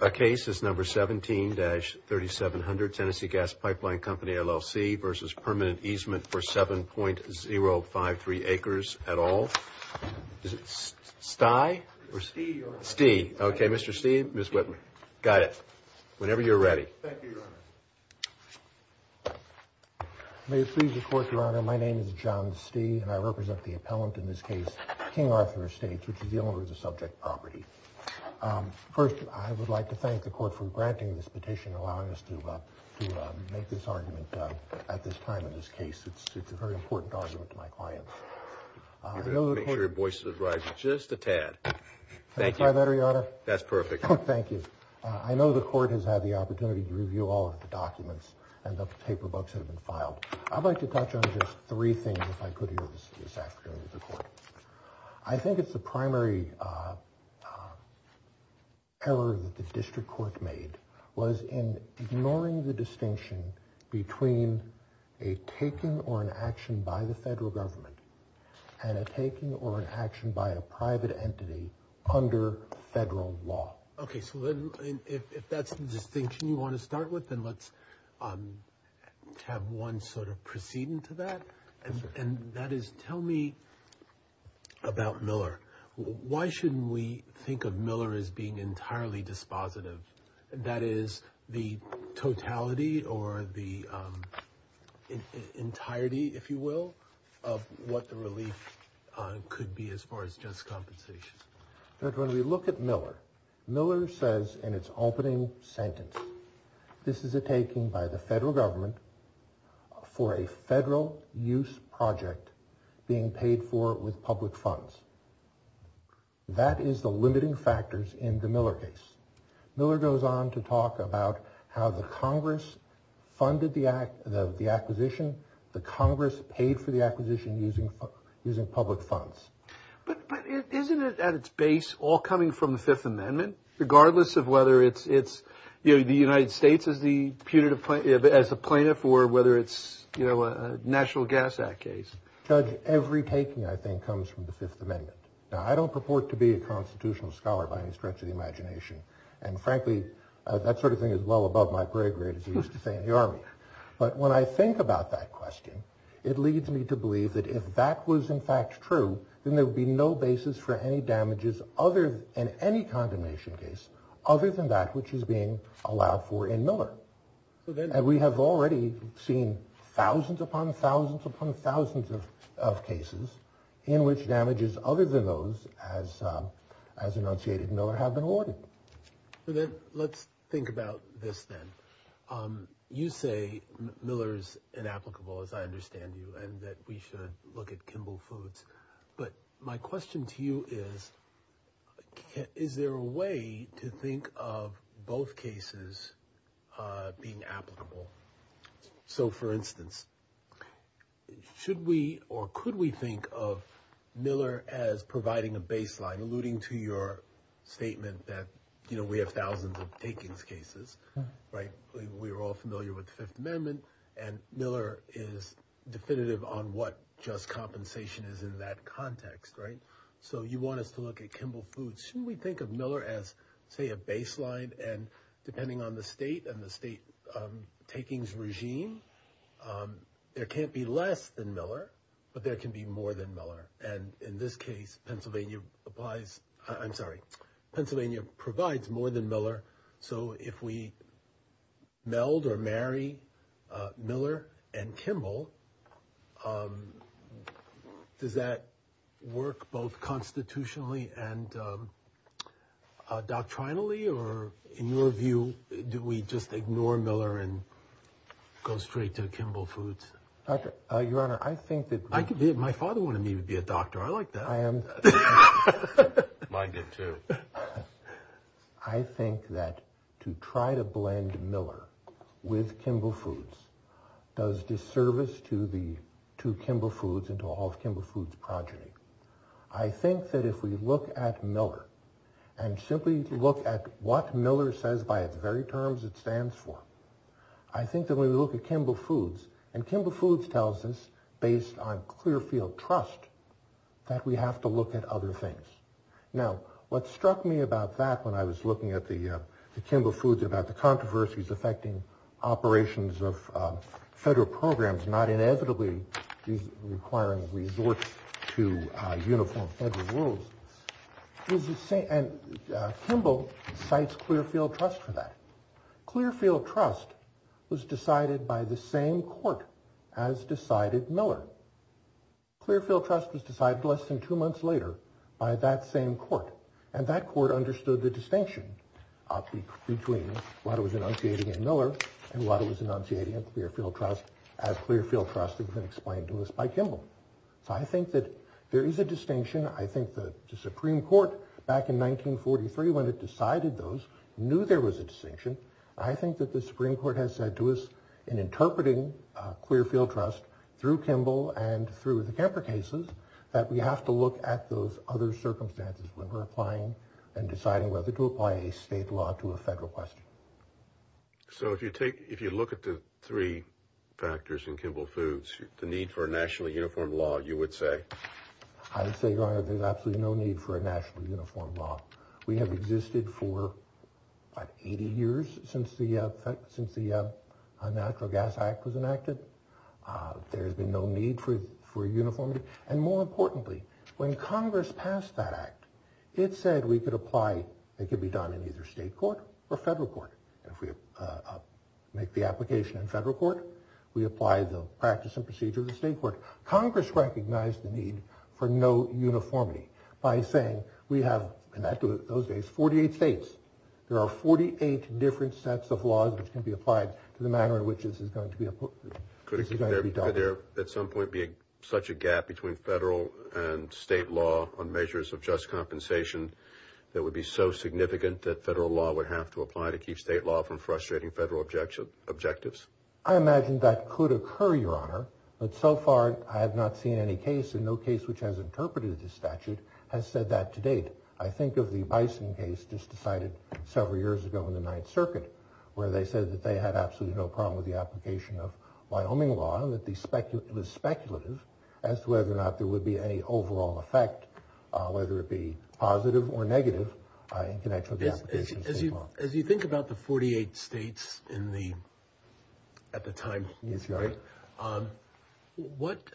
A case is number 17-3700, Tennessee Gas Pipeline Company LLC v. Permanent Easement For7.053acres et al. Is it Stye or? Stee, Your Honor. Stee. Okay, Mr. Stee, Ms. Whitman. Got it. Whenever you're ready. Thank you, Your Honor. May it please the Court, Your Honor, my name is John Stee and I represent the appellant in this case, King Arthur Estates, which is the owner of the subject property. First, I would like to thank the Court for granting this petition, allowing us to make this argument at this time in this case. It's a very important argument to my clients. Make sure your voice is raised just a tad. Can I try that, Your Honor? That's perfect. Thank you. I know the Court has had the opportunity to review all of the documents and the paper books that have been filed. I'd like to touch on just three things if I could here this afternoon with the Court. I think it's the primary error that the district court made was in ignoring the distinction between a taking or an action by the federal government and a taking or an action by a private entity under federal law. Okay, so if that's the distinction you want to start with, then let's have one sort of proceeding to that. And that is, tell me about Miller. Why shouldn't we think of Miller as being entirely dispositive? That is, the totality or the entirety, if you will, of what the relief could be as far as just compensation. Judge, when we look at Miller, Miller says in its opening sentence, this is a taking by the federal government for a federal use project being paid for with public funds. That is the limiting factors in the Miller case. Miller goes on to talk about how the Congress funded the acquisition. The Congress paid for the acquisition using public funds. But isn't it at its base all coming from the Fifth Amendment, regardless of whether it's the United States as the plaintiff or whether it's a National Gas Act case? Judge, every taking, I think, comes from the Fifth Amendment. Now, I don't purport to be a constitutional scholar by any stretch of the imagination. And frankly, that sort of thing is well above my grade, as you used to say in the Army. But when I think about that question, it leads me to believe that if that was, in fact, true, then there would be no basis for any damages other than any condemnation case other than that which is being allowed for in Miller. And we have already seen thousands upon thousands upon thousands of cases in which damages other than those as as enunciated Miller have been awarded. Let's think about this, then. You say Miller's inapplicable, as I understand you, and that we should look at Kimball Foods. But my question to you is, is there a way to think of both cases being applicable? So, for instance, should we or could we think of Miller as providing a baseline? Alluding to your statement that, you know, we have thousands of takings cases. Right. We were all familiar with the Fifth Amendment and Miller is definitive on what just compensation is in that context. Right. So you want us to look at Kimball Foods. We think of Miller as, say, a baseline. And depending on the state and the state takings regime, there can't be less than Miller. But there can be more than Miller. And in this case, Pennsylvania applies. I'm sorry. Pennsylvania provides more than Miller. So if we meld or marry Miller and Kimball, does that work both constitutionally and doctrinally? Or in your view, do we just ignore Miller and go straight to Kimball Foods? Your Honor, I think that my father wanted me to be a doctor. I am. I did, too. I think that to try to blend Miller with Kimball Foods does disservice to the two Kimball Foods and to all of Kimball Foods progeny. I think that if we look at Miller and simply look at what Miller says by its very terms, it stands for. I think that when we look at Kimball Foods and Kimball Foods tells us based on clear field trust that we have to look at other things. Now, what struck me about that when I was looking at the Kimball Foods about the controversies affecting operations of federal programs, not inevitably requiring resorts to uniform federal rules. And Kimball sites Clearfield Trust for that Clearfield Trust was decided by the same court as decided Miller. Clearfield Trust was decided less than two months later by that same court. And that court understood the distinction between what it was enunciated in Miller and what it was enunciated in Clearfield Trust. As Clearfield Trust explained to us by Kimball. So I think that there is a distinction. I think that the Supreme Court back in nineteen forty three when it decided those knew there was a distinction. I think that the Supreme Court has said to us in interpreting Clearfield Trust through Kimball and through the camper cases that we have to look at those other circumstances when we're applying and deciding whether to apply a state law to a federal question. So if you take if you look at the three factors in Kimball Foods, the need for a nationally uniform law, you would say. I would say there's absolutely no need for a national uniform law. We have existed for 80 years since the since the natural gas act was enacted. There's been no need for for uniformity. And more importantly, when Congress passed that act, it said we could apply. It could be done in either state court or federal court. If we make the application in federal court, we apply the practice and procedure of the state court. Congress recognized the need for no uniformity by saying we have in those days, 48 states. There are 48 different sets of laws which can be applied to the manner in which this is going to be. Could there at some point be such a gap between federal and state law on measures of just compensation that would be so significant that federal law would have to apply to keep state law from frustrating federal objectives? I imagine that could occur, Your Honor. But so far, I have not seen any case in no case which has interpreted the statute has said that to date. I think of the bison case just decided several years ago in the Ninth Circuit, where they said that they had absolutely no problem with the application of Wyoming law. And that the speculative was speculative as to whether or not there would be any overall effect, whether it be positive or negative. As you as you think about the 48 states in the. At the time, what?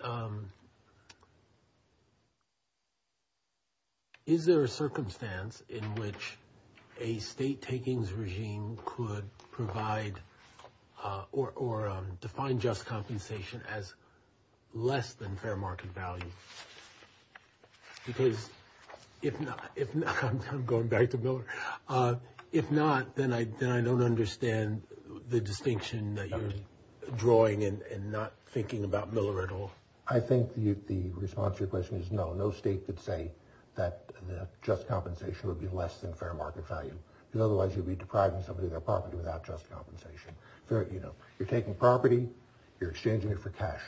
Is there a circumstance in which a state takings regime could provide or define just compensation as less than fair market value? Because if not, if I'm going back to Miller, if not, then I then I don't understand the distinction that you're drawing and not thinking about Miller at all. I think the response to your question is no. No state could say that just compensation would be less than fair market value. Because otherwise you'd be depriving somebody their property without just compensation. You're taking property, you're exchanging it for cash,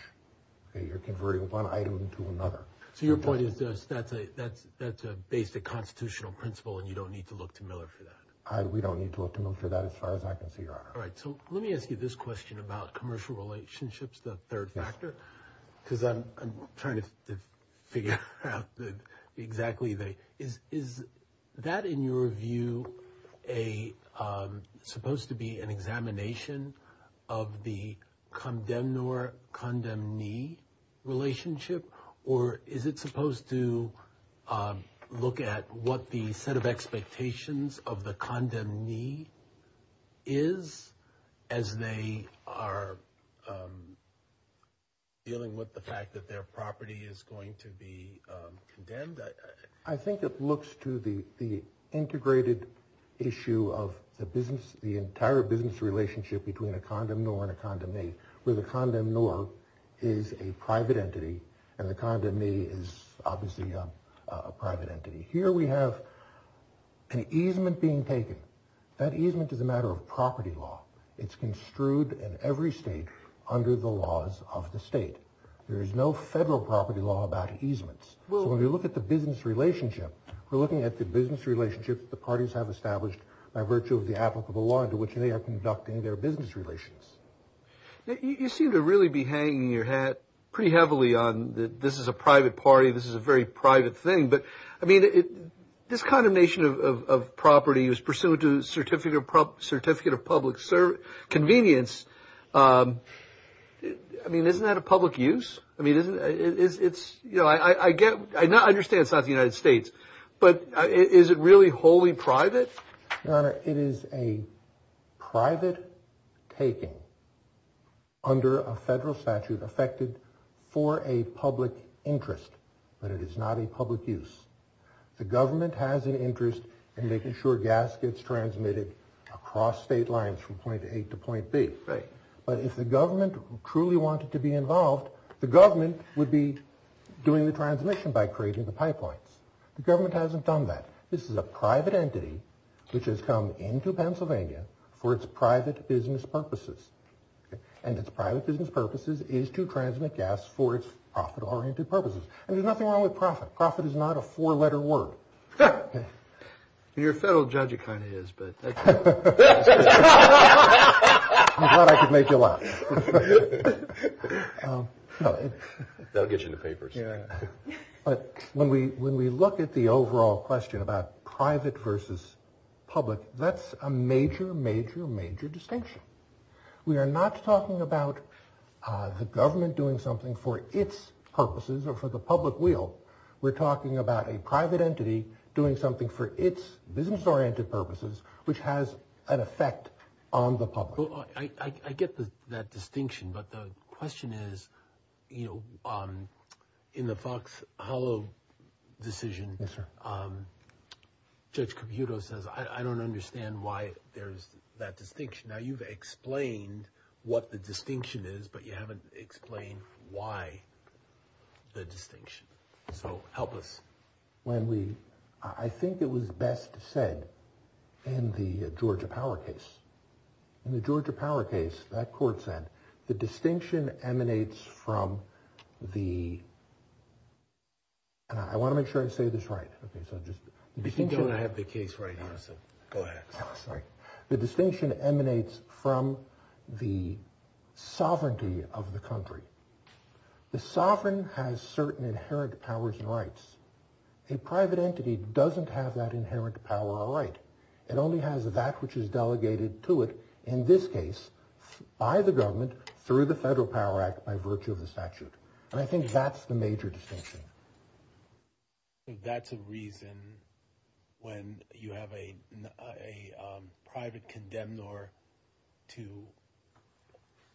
you're converting one item to another. So your point is that's a that's that's a basic constitutional principle and you don't need to look to Miller for that. We don't need to look to move for that as far as I can see. All right. So let me ask you this question about commercial relationships. The third factor, because I'm trying to figure out exactly that is, is that in your view, a supposed to be an examination of the condemn or condemn me relationship? Or is it supposed to look at what the set of expectations of the condemn me is as they are dealing with the fact that their property is going to be condemned? I think it looks to the the integrated issue of the business, the entire business relationship between a condom nor a condom me with a condom nor is a private entity. And the condom me is obviously a private entity. Here we have an easement being taken. That easement is a matter of property law. It's construed in every state under the laws of the state. There is no federal property law about easements. Well, if you look at the business relationship, we're looking at the business relationship. The parties have established by virtue of the applicable law into which they are conducting their business relations. You seem to really be hanging your hat pretty heavily on. This is a private party. This is a very private thing. But I mean, this condemnation of property is pursuant to certificate of public service convenience. I mean, isn't that a public use? I mean, isn't it? It's you know, I get I understand it's not the United States, but is it really wholly private? It is a private taking. Under a federal statute affected for a public interest, but it is not a public use. The government has an interest in making sure gas gets transmitted across state lines from point A to point B. Right. But if the government truly wanted to be involved, the government would be doing the transmission by creating the pipelines. The government hasn't done that. This is a private entity which has come into Pennsylvania for its private business purposes. And its private business purposes is to transmit gas for its profit oriented purposes. And there's nothing wrong with profit. Profit is not a four letter word. Your federal judge, it kind of is, but I could make you laugh. That'll get you into papers. But when we when we look at the overall question about private versus public, that's a major, major, major distinction. We are not talking about the government doing something for its purposes or for the public wheel. We're talking about a private entity doing something for its business oriented purposes, which has an effect on the public. I get that distinction. But the question is, you know, in the Fox hollow decision. Yes, sir. Judge Kibbutz says, I don't understand why there's that distinction. Now, you've explained what the distinction is, but you haven't explained why the distinction. So help us when we I think it was best said in the Georgia power case. In the Georgia power case, that court said the distinction emanates from the. And I want to make sure I say this right, because I just don't have the case right now. So go ahead. Sorry. The distinction emanates from the sovereignty of the country. The sovereign has certain inherent powers and rights. A private entity doesn't have that inherent power or right. It only has that which is delegated to it in this case by the government, through the Federal Power Act, by virtue of the statute. And I think that's the major distinction. That's a reason when you have a a private condemned or to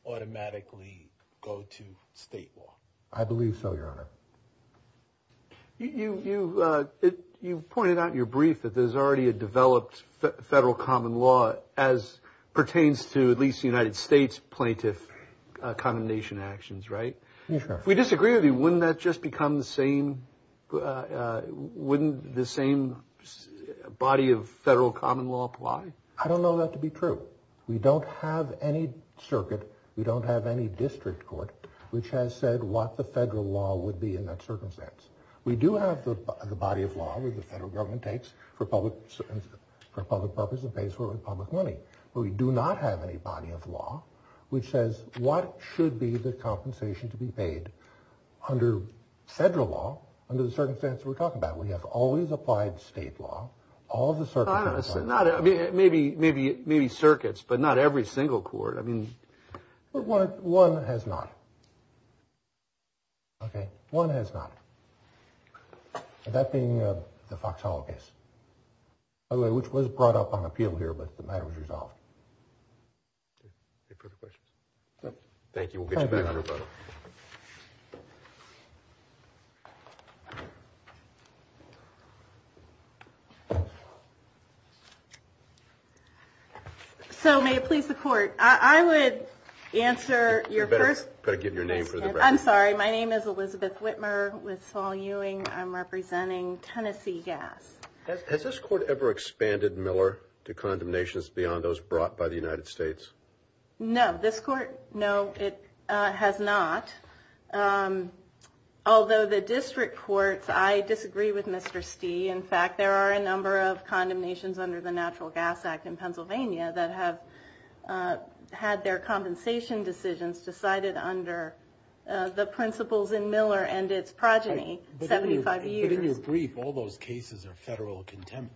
automatically go to state law. I believe so, Your Honor. You you you pointed out in your brief that there's already a developed federal common law as pertains to at least the United States plaintiff condemnation actions. Right. If we disagree with you, wouldn't that just become the same? Wouldn't the same body of federal common law apply? I don't know that to be true. We don't have any circuit. We don't have any district court which has said what the federal law would be in that circumstance. We do have the body of law with the federal government takes for public for public purpose and pays for public money. We do not have any body of law which says what should be the compensation to be paid under federal law under the circumstance we're talking about. We have always applied state law. All of us are not. I mean, maybe maybe maybe circuits, but not every single court. I mean, what one has not. OK, one has not. That being the foxhole case, which was brought up on appeal here, but the matter was resolved. The question. Thank you. So may it please the court. I would answer your first. But give your name for the. I'm sorry. My name is Elizabeth Whitmer with Saul Ewing. I'm representing Tennessee Gas. Has this court ever expanded Miller to condemnations beyond those brought by the United States? No, this court. No, it has not. Although the district courts, I disagree with Mr. Stee. In fact, there are a number of condemnations under the Natural Gas Act in Pennsylvania that have had their compensation decisions decided under the principles in Miller and its progeny. But in your brief, all those cases are federal contempt,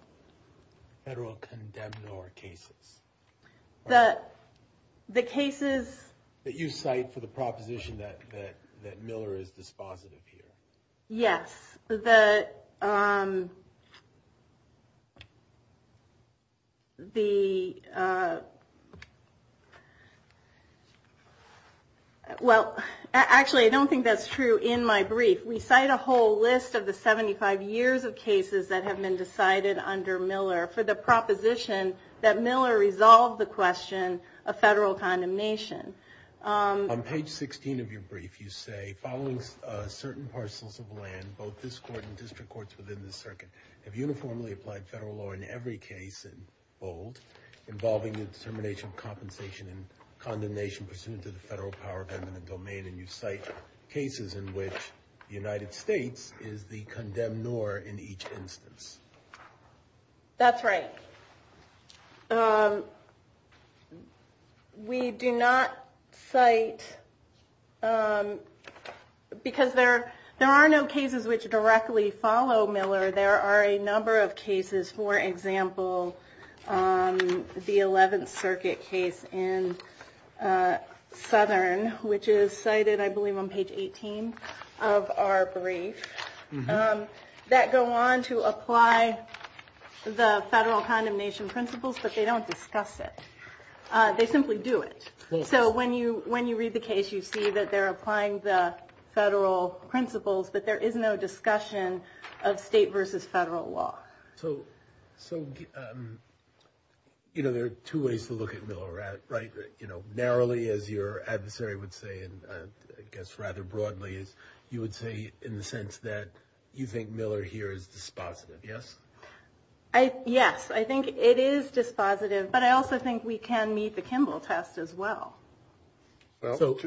federal condemned or cases that the cases that you cite for the proposition that that Miller is dispositive here. Yes, the. The. Well, actually, I don't think that's true. In my brief, we cite a whole list of the 75 years of cases that have been decided under Miller for the proposition that Miller resolved the question of federal condemnation. On page 16 of your brief, you say following certain parcels of land, both this court and district courts within the circuit have uniformly applied federal law in every case in bold involving the determination of compensation and condemnation pursuant to the federal power of them in the domain. And you cite cases in which the United States is the condemned nor in each instance. That's right. We do not cite because there there are no cases which directly follow Miller. There are a number of cases, for example, the 11th Circuit case in Southern, which is cited, I believe, on page 18 of our brief that go on to apply the federal condemnation principles. But they don't discuss it. They simply do it. So when you when you read the case, you see that they're applying the federal principles, but there is no discussion of state versus federal law. So so, you know, there are two ways to look at Miller. Right. Right. You know, narrowly, as your adversary would say, and I guess rather broadly, as you would say, in the sense that you think Miller here is dispositive. Yes, I yes, I think it is dispositive. But I also think we can meet the Kimball test as well. So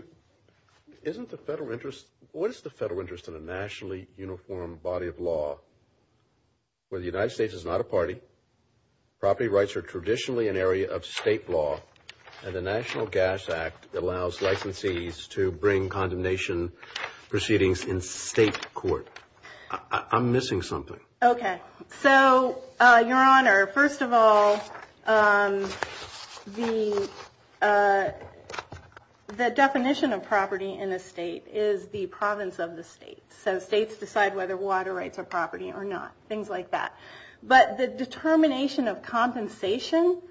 isn't the federal interest? What is the federal interest in a nationally uniform body of law? Well, the United States is not a party. Property rights are traditionally an area of state law, and the National Gas Act allows licensees to bring condemnation proceedings in state court. I'm missing something. OK, so your honor, first of all, the the definition of property in a state is the province of the state. So states decide whether water rights are property or not. Things like that. But the determination of compensation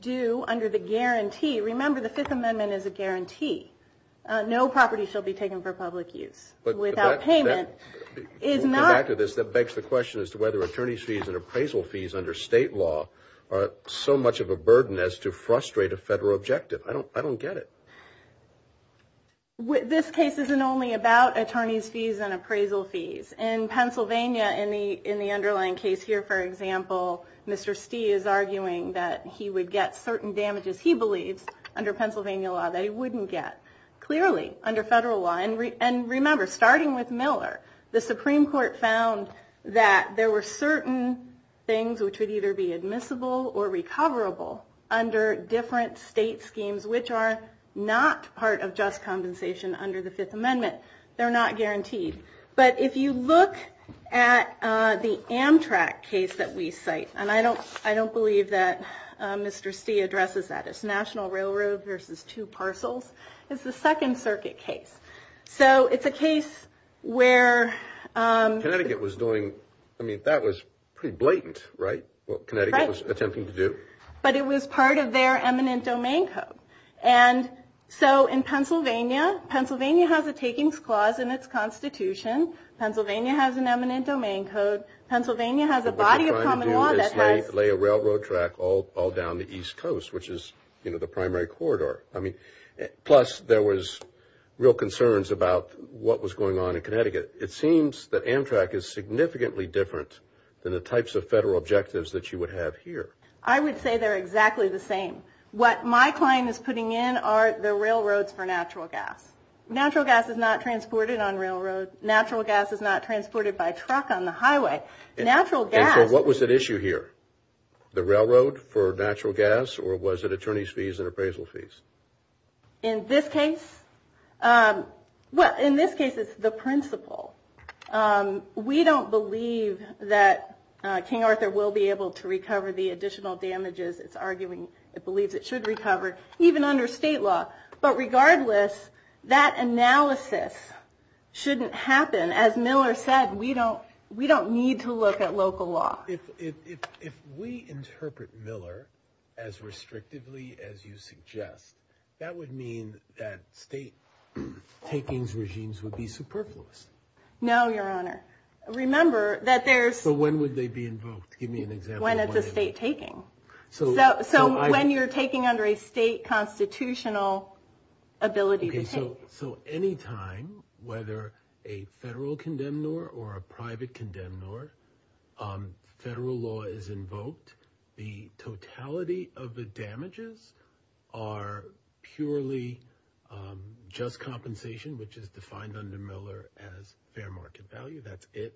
do under the guarantee. Remember, the Fifth Amendment is a guarantee. No property shall be taken for public use. But without payment is not to this. That begs the question as to whether attorney's fees and appraisal fees under state law are so much of a burden as to frustrate a federal objective. I don't I don't get it. With this case, isn't only about attorney's fees and appraisal fees in Pennsylvania and the in the underlying case here, for example, Mr. Stee is arguing that he would get certain damages he believes under Pennsylvania law that he wouldn't get clearly under federal law. And remember, starting with Miller, the Supreme Court found that there were certain things which would either be admissible or recoverable under different state schemes, which are not part of just compensation under the Fifth Amendment. They're not guaranteed. But if you look at the Amtrak case that we cite, and I don't I don't believe that Mr. Stee addresses that as National Railroad versus two parcels is the Second Circuit case. So it's a case where Connecticut was doing. I mean, that was pretty blatant. Right. Well, Connecticut was attempting to do. But it was part of their eminent domain code. And so in Pennsylvania, Pennsylvania has a takings clause in its constitution. Pennsylvania has an eminent domain code. Pennsylvania has a body of common law that lay a railroad track all all down the East Coast, which is, you know, the primary corridor. I mean, plus, there was real concerns about what was going on in Connecticut. It seems that Amtrak is significantly different than the types of federal objectives that you would have here. I would say they're exactly the same. What my client is putting in are the railroads for natural gas. Natural gas is not transported on railroad. Natural gas is not transported by truck on the highway. Natural gas. What was at issue here? The railroad for natural gas or was it attorneys fees and appraisal fees? In this case. Well, in this case, it's the principle. We don't believe that King Arthur will be able to recover the additional damages. It's arguing it believes it should recover even under state law. But regardless, that analysis shouldn't happen. As Miller said, we don't we don't need to look at local law. If we interpret Miller as restrictively as you suggest, that would mean that state takings regimes would be superfluous. No, Your Honor. Remember that there's. So when would they be invoked? Give me an example. When it's a state taking. So. So when you're taking under a state constitutional ability. So any time, whether a federal condemned or or a private condemned or federal law is invoked, the totality of the damages are purely just compensation, which is defined under Miller as fair market value. That's it.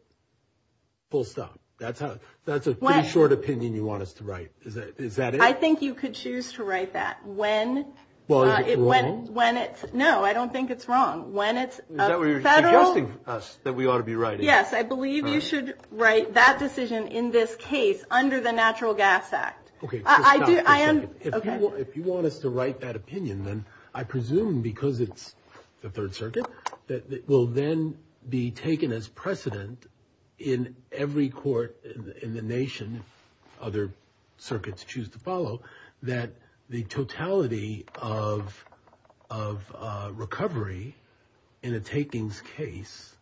Full stop. That's how that's a pretty short opinion you want us to write. Is that is that it? I think you could choose to write that when. Well, when when it's no, I don't think it's wrong when it's that we're suggesting that we ought to be right. Yes, I believe you should write that decision in this case under the Natural Gas Act. OK, I do. I am. If you want us to write that opinion, then I presume because it's the Third Circuit, that will then be taken as precedent in every court in the nation. Other circuits choose to follow that the totality of of recovery in a takings case,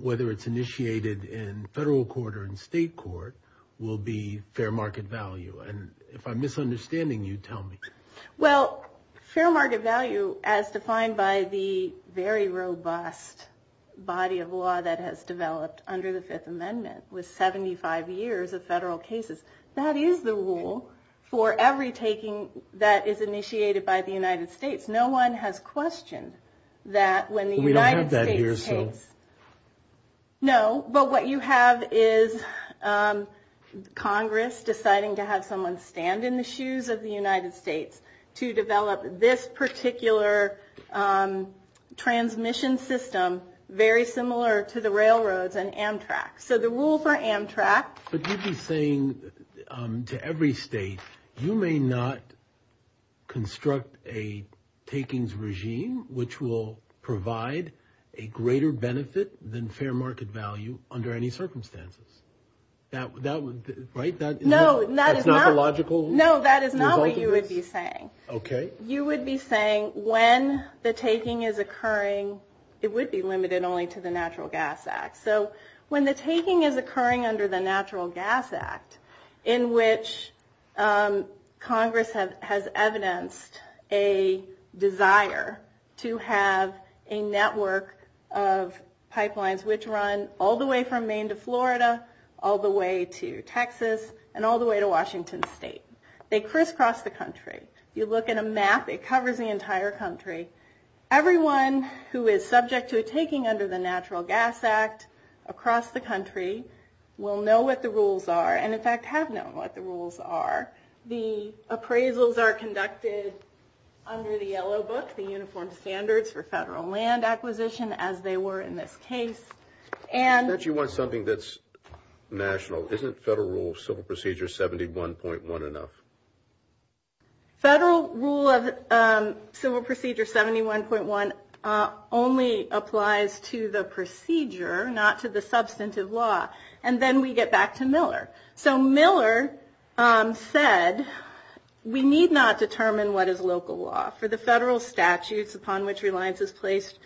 whether it's initiated in federal court or in state court, will be fair market value. And if I'm misunderstanding you, tell me. Well, fair market value, as defined by the very robust body of law that has developed under the Fifth Amendment with 75 years of federal cases, that is the rule for every taking that is initiated by the United States. No one has questioned that when the United States. No, but what you have is Congress deciding to have someone stand in the shoes of the United States to develop this particular transmission system, very similar to the railroads and Amtrak. So the rule for Amtrak. But you'd be saying to every state, you may not construct a takings regime, which will provide a greater benefit than fair market value under any circumstances. That would be right. No, that is not logical. No, that is not what you would be saying. OK, you would be saying when the taking is occurring, it would be limited only to the Natural Gas Act. So when the taking is occurring under the Natural Gas Act, in which Congress has evidenced a desire to have a network of pipelines, which run all the way from Maine to Florida, all the way to Texas and all the way to Washington state. They crisscross the country. You look at a map, it covers the entire country. Everyone who is subject to a taking under the Natural Gas Act across the country will know what the rules are. And in fact, have known what the rules are. The appraisals are conducted under the yellow book, the uniform standards for federal land acquisition, as they were in this case. And that you want something that's national, isn't federal rule civil procedure 71.1 enough? Federal rule of civil procedure 71.1 only applies to the procedure, not to the substantive law. And then we get back to Miller. So Miller said, we need not determine what is local law. For the federal statutes upon which reliance is placed,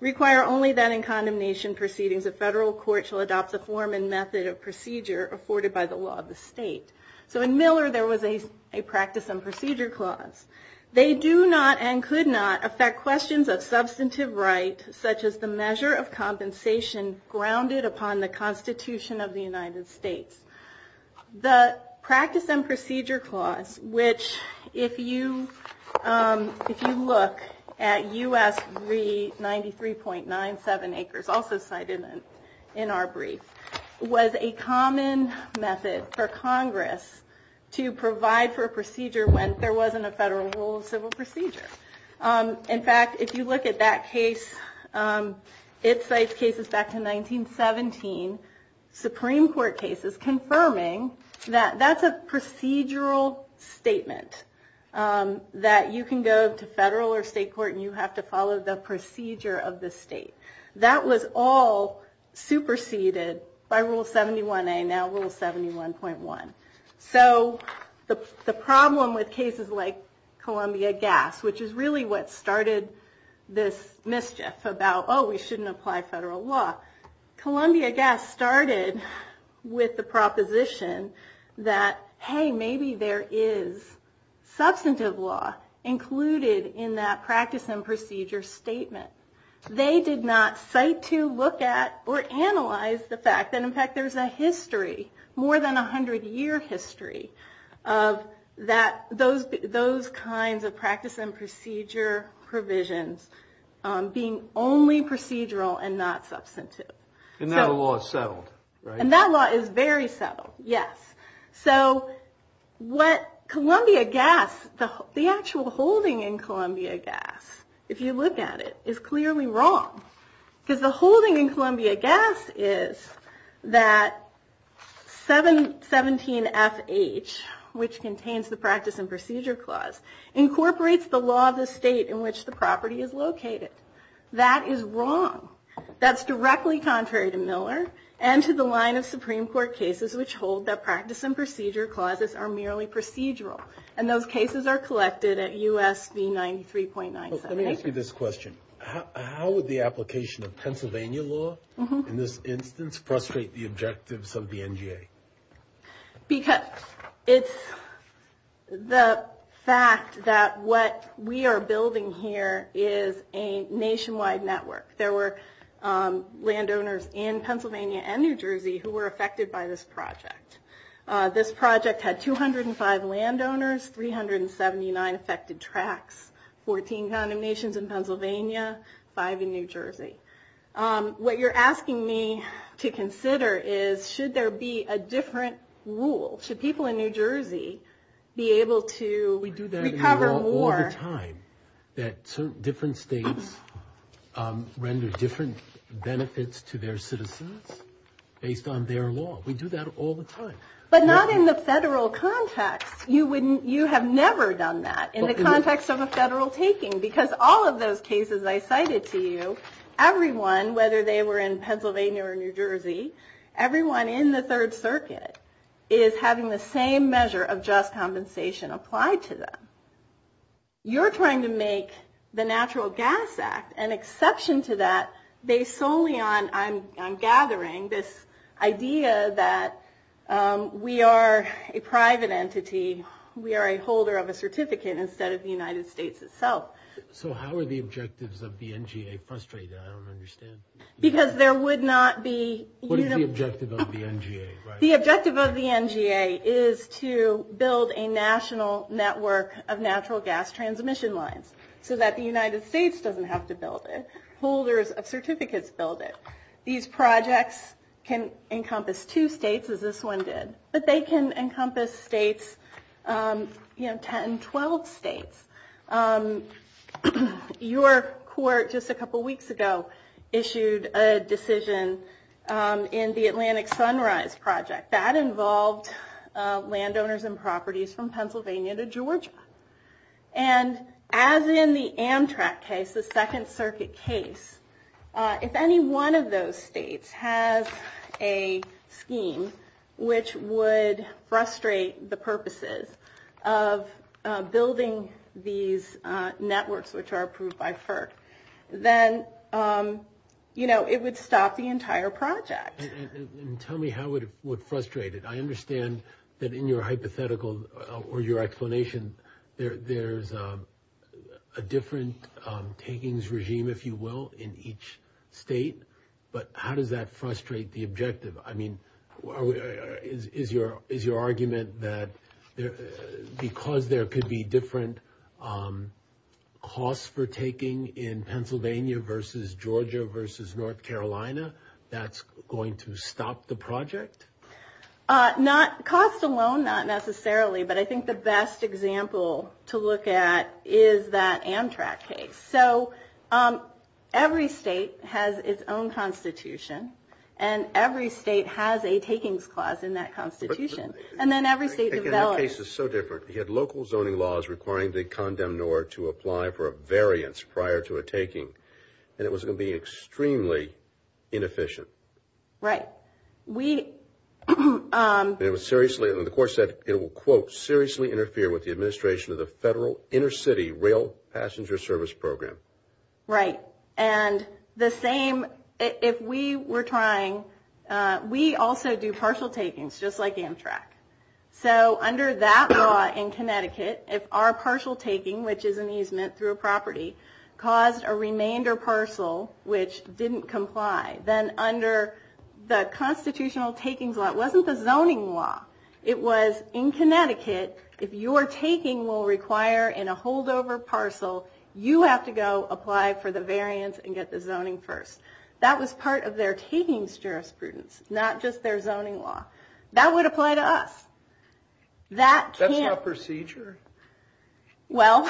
require only that in condemnation proceedings, a federal court shall adopt the form and method of procedure afforded by the law of the state. So in Miller, there was a practice and procedure clause. They do not and could not affect questions of substantive right, such as the measure of compensation grounded upon the Constitution of the United States. The practice and procedure clause, which if you look at US v. 93.97 acres, also cited in our brief, was a common method for Congress to provide for a procedure when there wasn't a federal rule of civil procedure. In fact, if you look at that case, it cites cases back to 1917, Supreme Court cases, confirming that that's a procedural statement. That you can go to federal or state court, and you have to follow the procedure of the state. That was all superseded by rule 71A, now rule 71.1. So the problem with cases like Columbia Gas, which is really what started this mischief about, oh, we shouldn't apply federal law. Columbia Gas started with the proposition that, hey, maybe there is substantive law included in that practice and procedure statement. They did not cite to, look at, or analyze the fact that, in fact, there's a history, more than 100 year history, of those kinds of practice and procedure provisions being only procedural and not substantive. And that law is settled, right? And that law is very settled, yes. So what Columbia Gas, the actual holding in Columbia Gas, if you look at it, is clearly wrong. Because the holding in Columbia Gas is that 717FH, which contains the practice and procedure clause, incorporates the law of the state in which the property is located. That is wrong. That's directly contrary to Miller and to the line of Supreme Court cases, which hold that practice and procedure clauses are merely procedural. And those cases are collected at U.S. v. 93.97. Let me ask you this question. How would the application of Pennsylvania law in this instance frustrate the objectives of the NGA? Because it's the fact that what we are building here is a nationwide network. There were landowners in Pennsylvania and New Jersey who were affected by this project. This project had 205 landowners, 379 affected tracts, 14 condemnations in Pennsylvania, 5 in New Jersey. What you're asking me to consider is, should there be a different rule? Should people in New Jersey be able to recover more? that different states render different benefits to their citizens based on their law? We do that all the time. But not in the federal context. You have never done that in the context of a federal taking. Because all of those cases I cited to you, everyone, whether they were in Pennsylvania or New Jersey, everyone in the Third Circuit is having the same measure of just compensation applied to them. You're trying to make the Natural Gas Act an exception to that based solely on, I'm gathering, this idea that we are a private entity, we are a holder of a certificate instead of the United States itself. So how are the objectives of the NGA frustrated? I don't understand. Because there would not be... What is the objective of the NGA? The objective of the NGA is to build a national network of natural gas transmission lines so that the United States doesn't have to build it. Holders of certificates build it. These projects can encompass two states, as this one did. But they can encompass states, 10, 12 states. Your court just a couple weeks ago issued a decision in the Atlantic Sunrise Project. That involved landowners and properties from Pennsylvania to Georgia. And as in the Amtrak case, the Second Circuit case, if any one of those states has a scheme which would frustrate the purposes of building these networks, which are approved by FERC, then it would stop the entire project. And tell me how it would frustrate it. I understand that in your hypothetical, or your explanation, there's a different takings regime, if you will, in each state. But how does that frustrate the objective? I mean, is your argument that because there could be different costs for taking in Pennsylvania versus Georgia versus North Carolina, that's going to stop the project? Cost alone, not necessarily. But I think the best example to look at is that Amtrak case. So every state has its own constitution. And every state has a takings clause in that constitution. And then every state develops. That case is so different. He had local zoning laws requiring the condemnor to apply for a variance prior to a taking. And it was going to be extremely inefficient. Right. And it was seriously, and the court said it will, quote, rail passenger service program. Right. And the same, if we were trying, we also do partial takings, just like Amtrak. So under that law in Connecticut, if our partial taking, which is an easement through a property, caused a remainder parcel which didn't comply, then under the constitutional takings law, it wasn't the zoning law. It was, in Connecticut, if your taking will require in a holdover parcel, you have to go apply for the variance and get the zoning first. That was part of their takings jurisprudence, not just their zoning law. That would apply to us. That's not procedure? Well,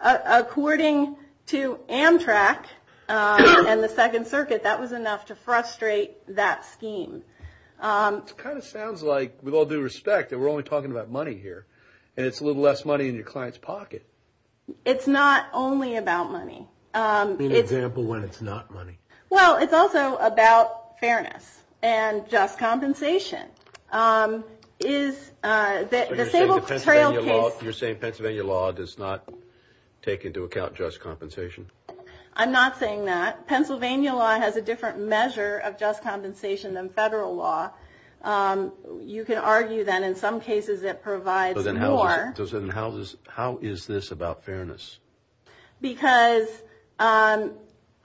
according to Amtrak and the Second Circuit, that was enough to frustrate that scheme. It kind of sounds like, with all due respect, that we're only talking about money here, and it's a little less money in your client's pocket. It's not only about money. Give me an example when it's not money. Well, it's also about fairness and just compensation. Is the disabled criteria case. You're saying Pennsylvania law does not take into account just compensation? I'm not saying that. Pennsylvania law has a different measure of just compensation than federal law. You can argue, then, in some cases it provides more. How is this about fairness? Because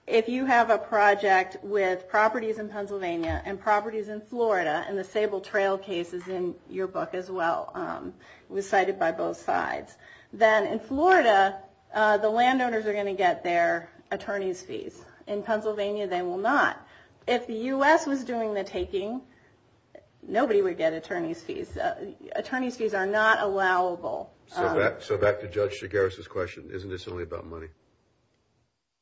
if you have a project with properties in Pennsylvania and properties in Florida, and the Sable Trail case is in your book as well. It was cited by both sides. Then, in Florida, the landowners are going to get their attorney's fees. In Pennsylvania, they will not. If the U.S. was doing the taking, nobody would get attorney's fees. Attorney's fees are not allowable. So back to Judge Shigaris' question, isn't this only about money?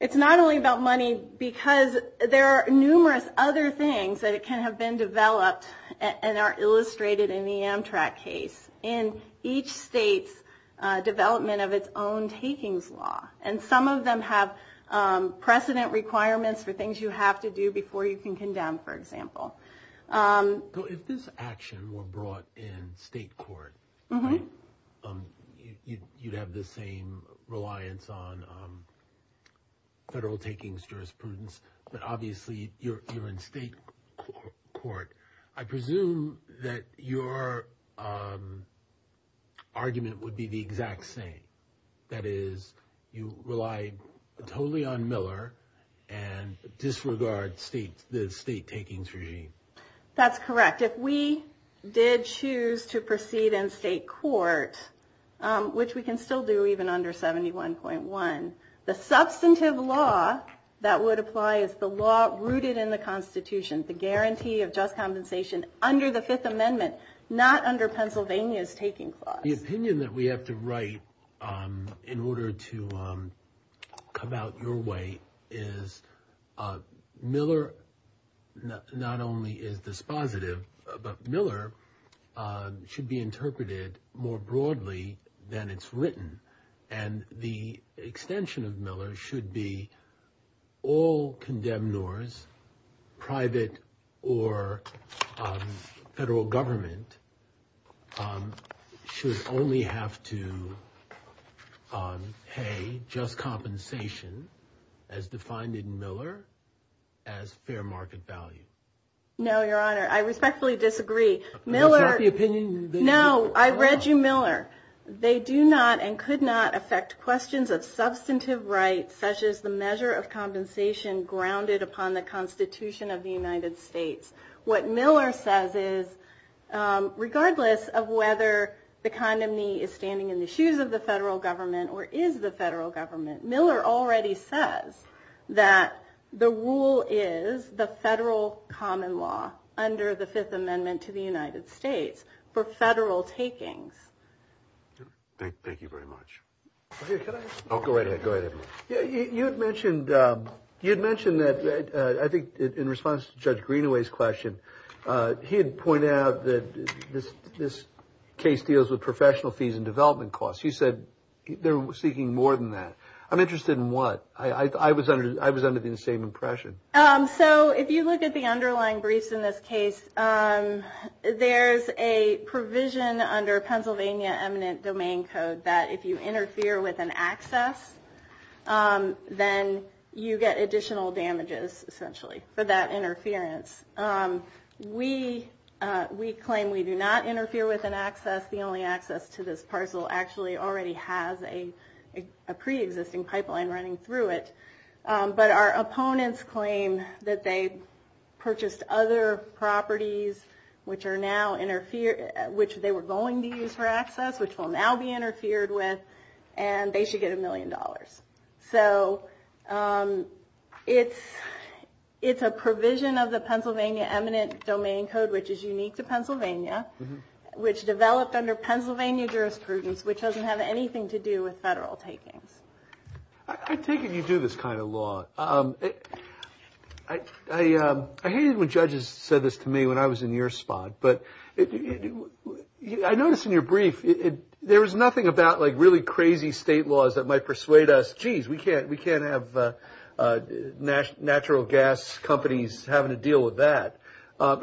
It's not only about money because there are numerous other things that can have been developed and are illustrated in the Amtrak case. In each state's development of its own takings law. Some of them have precedent requirements for things you have to do before you can condemn, for example. If this action were brought in state court, you'd have the same reliance on federal takings, jurisprudence. But obviously, you're in state court. I presume that your argument would be the exact same. That is, you rely totally on Miller and disregard the state takings regime. That's correct. If we did choose to proceed in state court, which we can still do even under 71.1, the substantive law that would apply is the law rooted in the Constitution. The guarantee of just compensation under the Fifth Amendment, not under Pennsylvania's taking clause. The opinion that we have to write in order to come out your way is Miller not only is dispositive, but Miller should be interpreted more broadly than it's written. And the extension of Miller should be all condemners, private or federal government, should only have to pay just compensation as defined in Miller as fair market value. No, Your Honor, I respectfully disagree. That's not the opinion. No, I read you Miller. They do not and could not affect questions of substantive rights, such as the measure of compensation grounded upon the Constitution of the United States. What Miller says is, regardless of whether the condemny is standing in the shoes of the federal government or is the federal government, Miller already says that the rule is the federal common law under the Fifth Amendment to the United States for federal takings. Thank you very much. Go ahead. You had mentioned that I think in response to Judge Greenaway's question, he had pointed out that this case deals with professional fees and development costs. You said they're seeking more than that. I'm interested in what? I was under the same impression. So if you look at the underlying briefs in this case, there's a provision under Pennsylvania eminent domain code that if you interfere with an access, then you get additional damages, essentially, for that interference. We claim we do not interfere with an access. The only access to this parcel actually already has a preexisting pipeline running through it. But our opponents claim that they purchased other properties, which they were going to use for access, which will now be interfered with, and they should get a million dollars. So it's a provision of the Pennsylvania eminent domain code, which is unique to Pennsylvania, which developed under Pennsylvania jurisprudence, which doesn't have anything to do with federal takings. I take it you do this kind of law. I hated when judges said this to me when I was in your spot, but I noticed in your brief, there was nothing about, like, really crazy state laws that might persuade us, geez, we can't have natural gas companies having to deal with that.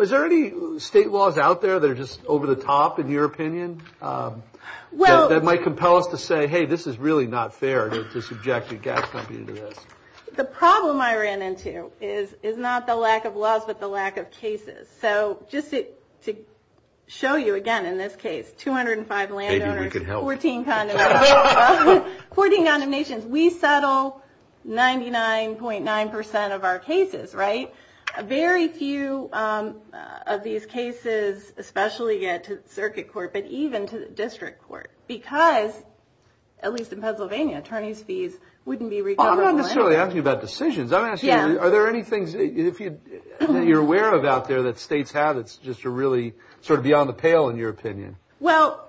Is there any state laws out there that are just over the top, in your opinion, that might compel us to say, hey, this is really not fair to subject a gas company to this? The problem I ran into is not the lack of laws, but the lack of cases. So just to show you, again, in this case, 205 landowners, 14 condemnations. We settle 99.9% of our cases, right? Very few of these cases especially get to circuit court, but even to district court, because, at least in Pennsylvania, attorneys' fees wouldn't be recoverable anyway. I'm not necessarily asking you about decisions. I'm asking you, are there any things that you're aware of out there that states have that's just really sort of beyond the pale, in your opinion? Well,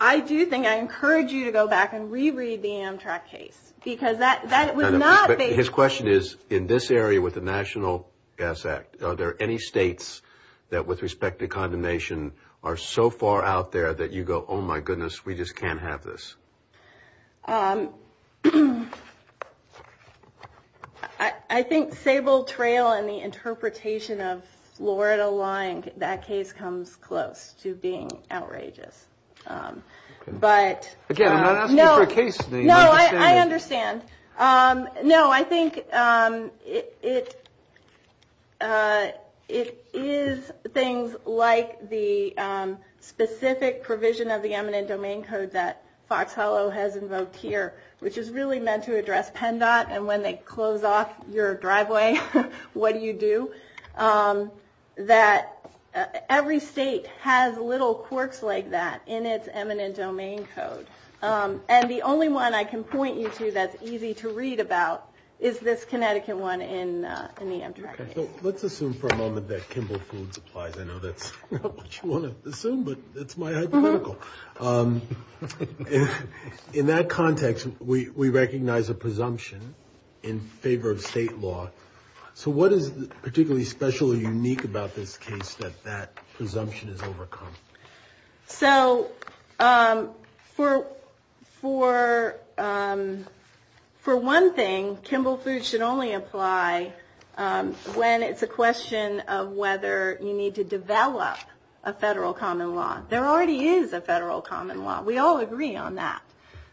I do think I encourage you to go back and reread the Amtrak case, because that was not basically – But his question is, in this area with the National Gas Act, are there any states that, with respect to condemnation, are so far out there that you go, oh, my goodness, we just can't have this? I think Sable Trail and the interpretation of Florida Lying, that case comes close to being outrageous. Again, I'm not asking you for a case name. No, I understand. No, I think it is things like the specific provision of the eminent domain code that Fox Hollow has invoked here, which is really meant to address PennDOT, and when they close off your driveway, what do you do? That every state has little quirks like that in its eminent domain code. And the only one I can point you to that's easy to read about is this Connecticut one in the Amtrak case. Let's assume for a moment that Kimball Foods applies. I know that's not what you want to assume, but it's my hypothetical. In that context, we recognize a presumption in favor of state law. So what is particularly special or unique about this case that that presumption is overcome? So for one thing, Kimball Foods should only apply when it's a question of whether you need to develop a federal common law. There already is a federal common law. We all agree on that.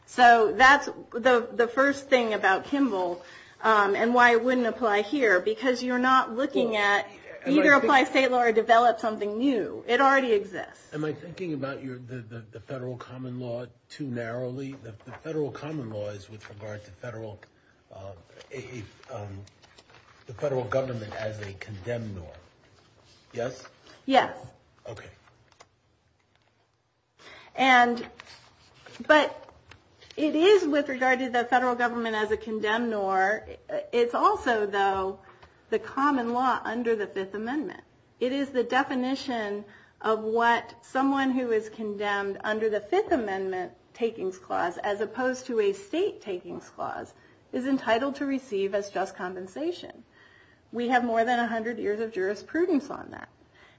So that's the first thing about Kimball and why it wouldn't apply here, because you're not looking at either apply state law or develop something new. It already exists. Am I thinking about the federal common law too narrowly? The federal common law is with regard to the federal government as a condemn nor. Yes? Yes. OK. But it is with regard to the federal government as a condemn nor. It's also, though, the common law under the Fifth Amendment. It is the definition of what someone who is condemned under the Fifth Amendment takings clause, as opposed to a state takings clause, is entitled to receive as just compensation. We have more than 100 years of jurisprudence on that.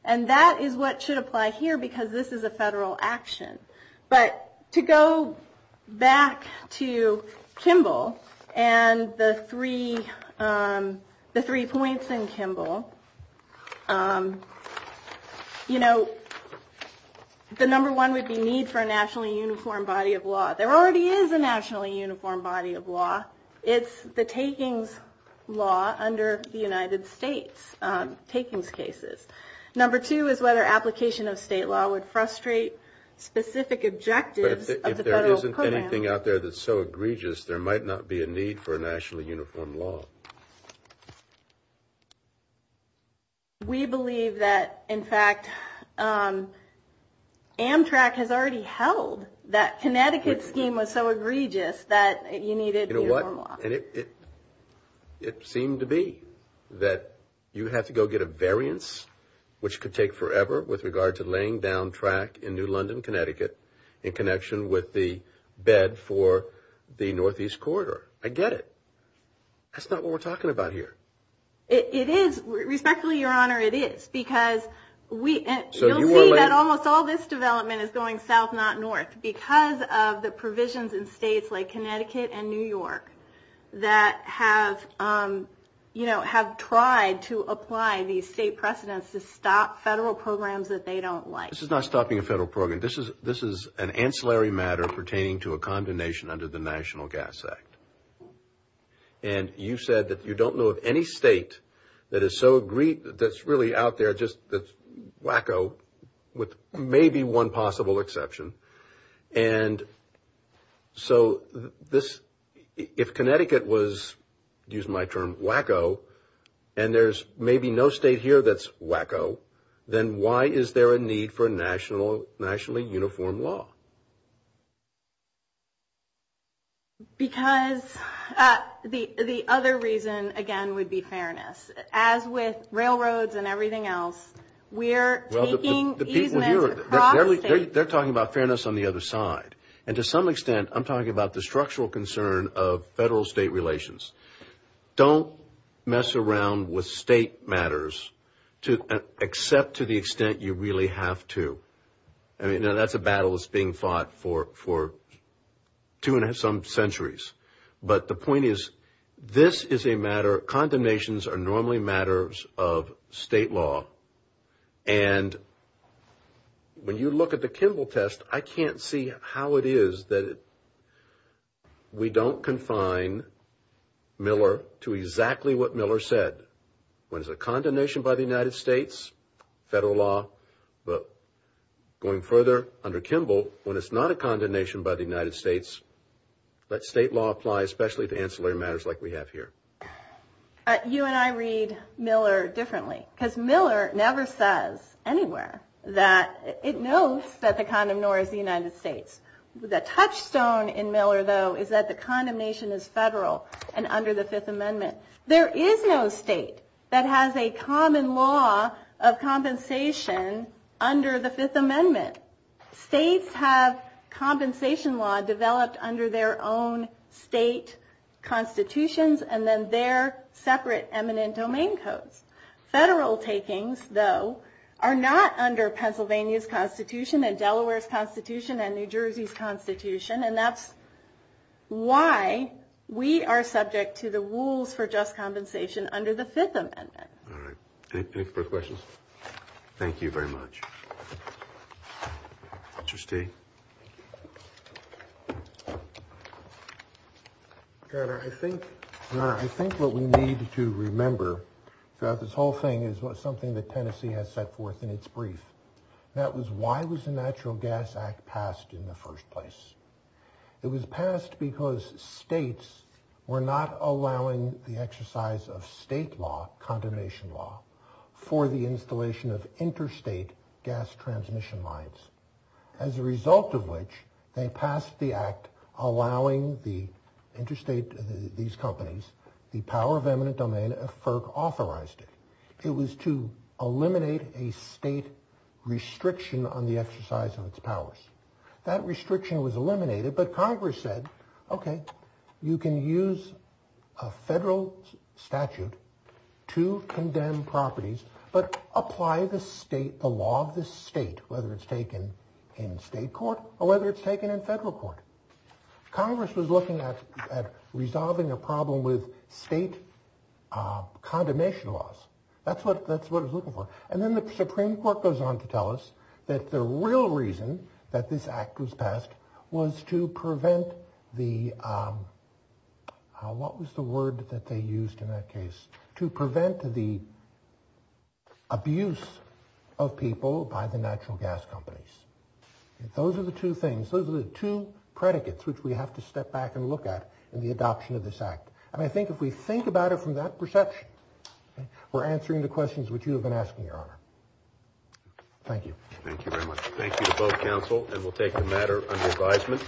And that is what should apply here, because this is a federal action. But to go back to Kimball and the three points in Kimball, the number one would be need for a nationally uniform body of law. There already is a nationally uniform body of law. It's the takings law under the United States takings cases. Number two is whether application of state law would frustrate specific objectives of the federal program. But if there isn't anything out there that's so egregious, there might not be a need for a nationally uniform law. We believe that, in fact, Amtrak has already held that Connecticut scheme was so egregious that you needed uniform law. And it seemed to be that you have to go get a variance, which could take forever, with regard to laying down track in New London, Connecticut, in connection with the bed for the Northeast Corridor. I get it. That's not what we're talking about here. It is. Respectfully, Your Honor, it is. You'll see that almost all this development is going south, not north, because of the provisions in states like Connecticut and New York that have tried to apply these state precedents to stop federal programs that they don't like. This is not stopping a federal program. This is an ancillary matter pertaining to a condemnation under the National Gas Act. And you said that you don't know of any state that is so egregious, that's really out there, just that's wacko, with maybe one possible exception. And so if Connecticut was, to use my term, wacko, and there's maybe no state here that's wacko, then why is there a need for a nationally uniform law? Because the other reason, again, would be fairness. As with railroads and everything else, we're taking easements across states. Well, the people here, they're talking about fairness on the other side. And to some extent, I'm talking about the structural concern of federal-state relations. Don't mess around with state matters, except to the extent you really have to. I mean, that's a battle that's being fought for two and some centuries. But the point is, this is a matter, condemnations are normally matters of state law. And when you look at the Kimball test, I can't see how it is that we don't confine Miller to exactly what Miller said. When it's a condemnation by the United States, federal law. But going further, under Kimball, when it's not a condemnation by the United States, let state law apply, especially to ancillary matters like we have here. You and I read Miller differently. Because Miller never says anywhere that it knows that the condemnor is the United States. The touchstone in Miller, though, is that the condemnation is federal and under the Fifth Amendment. There is no state that has a common law of compensation under the Fifth Amendment. States have compensation law developed under their own state constitutions and then their separate eminent domain codes. Federal takings, though, are not under Pennsylvania's constitution and Delaware's constitution and New Jersey's constitution. And that's why we are subject to the rules for just compensation under the Fifth Amendment. All right. Thank you for the questions. Thank you very much, Trustee. I think I think what we need to remember about this whole thing is something that Tennessee has set forth in its brief. That was why was the Natural Gas Act passed in the first place? It was passed because states were not allowing the exercise of state law, condemnation law for the installation of interstate gas transmission lines, as a result of which they passed the act, allowing the interstate, these companies, the power of eminent domain, FERC authorized it. It was to eliminate a state restriction on the exercise of its powers. That restriction was eliminated. But Congress said, OK, you can use a federal statute to condemn properties, but apply the state, the law of the state, whether it's taken in state court or whether it's taken in federal court. Congress was looking at resolving a problem with state condemnation laws. That's what that's what it's looking for. And then the Supreme Court goes on to tell us that the real reason that this act was passed was to prevent the. What was the word that they used in that case to prevent the. Abuse of people by the natural gas companies. Those are the two things. Those are the two predicates which we have to step back and look at in the adoption of this act. And I think if we think about it from that perception, we're answering the questions which you have been asking your honor. Thank you. Thank you very much. Thank you to both counsel. And we'll take the matter under advisement.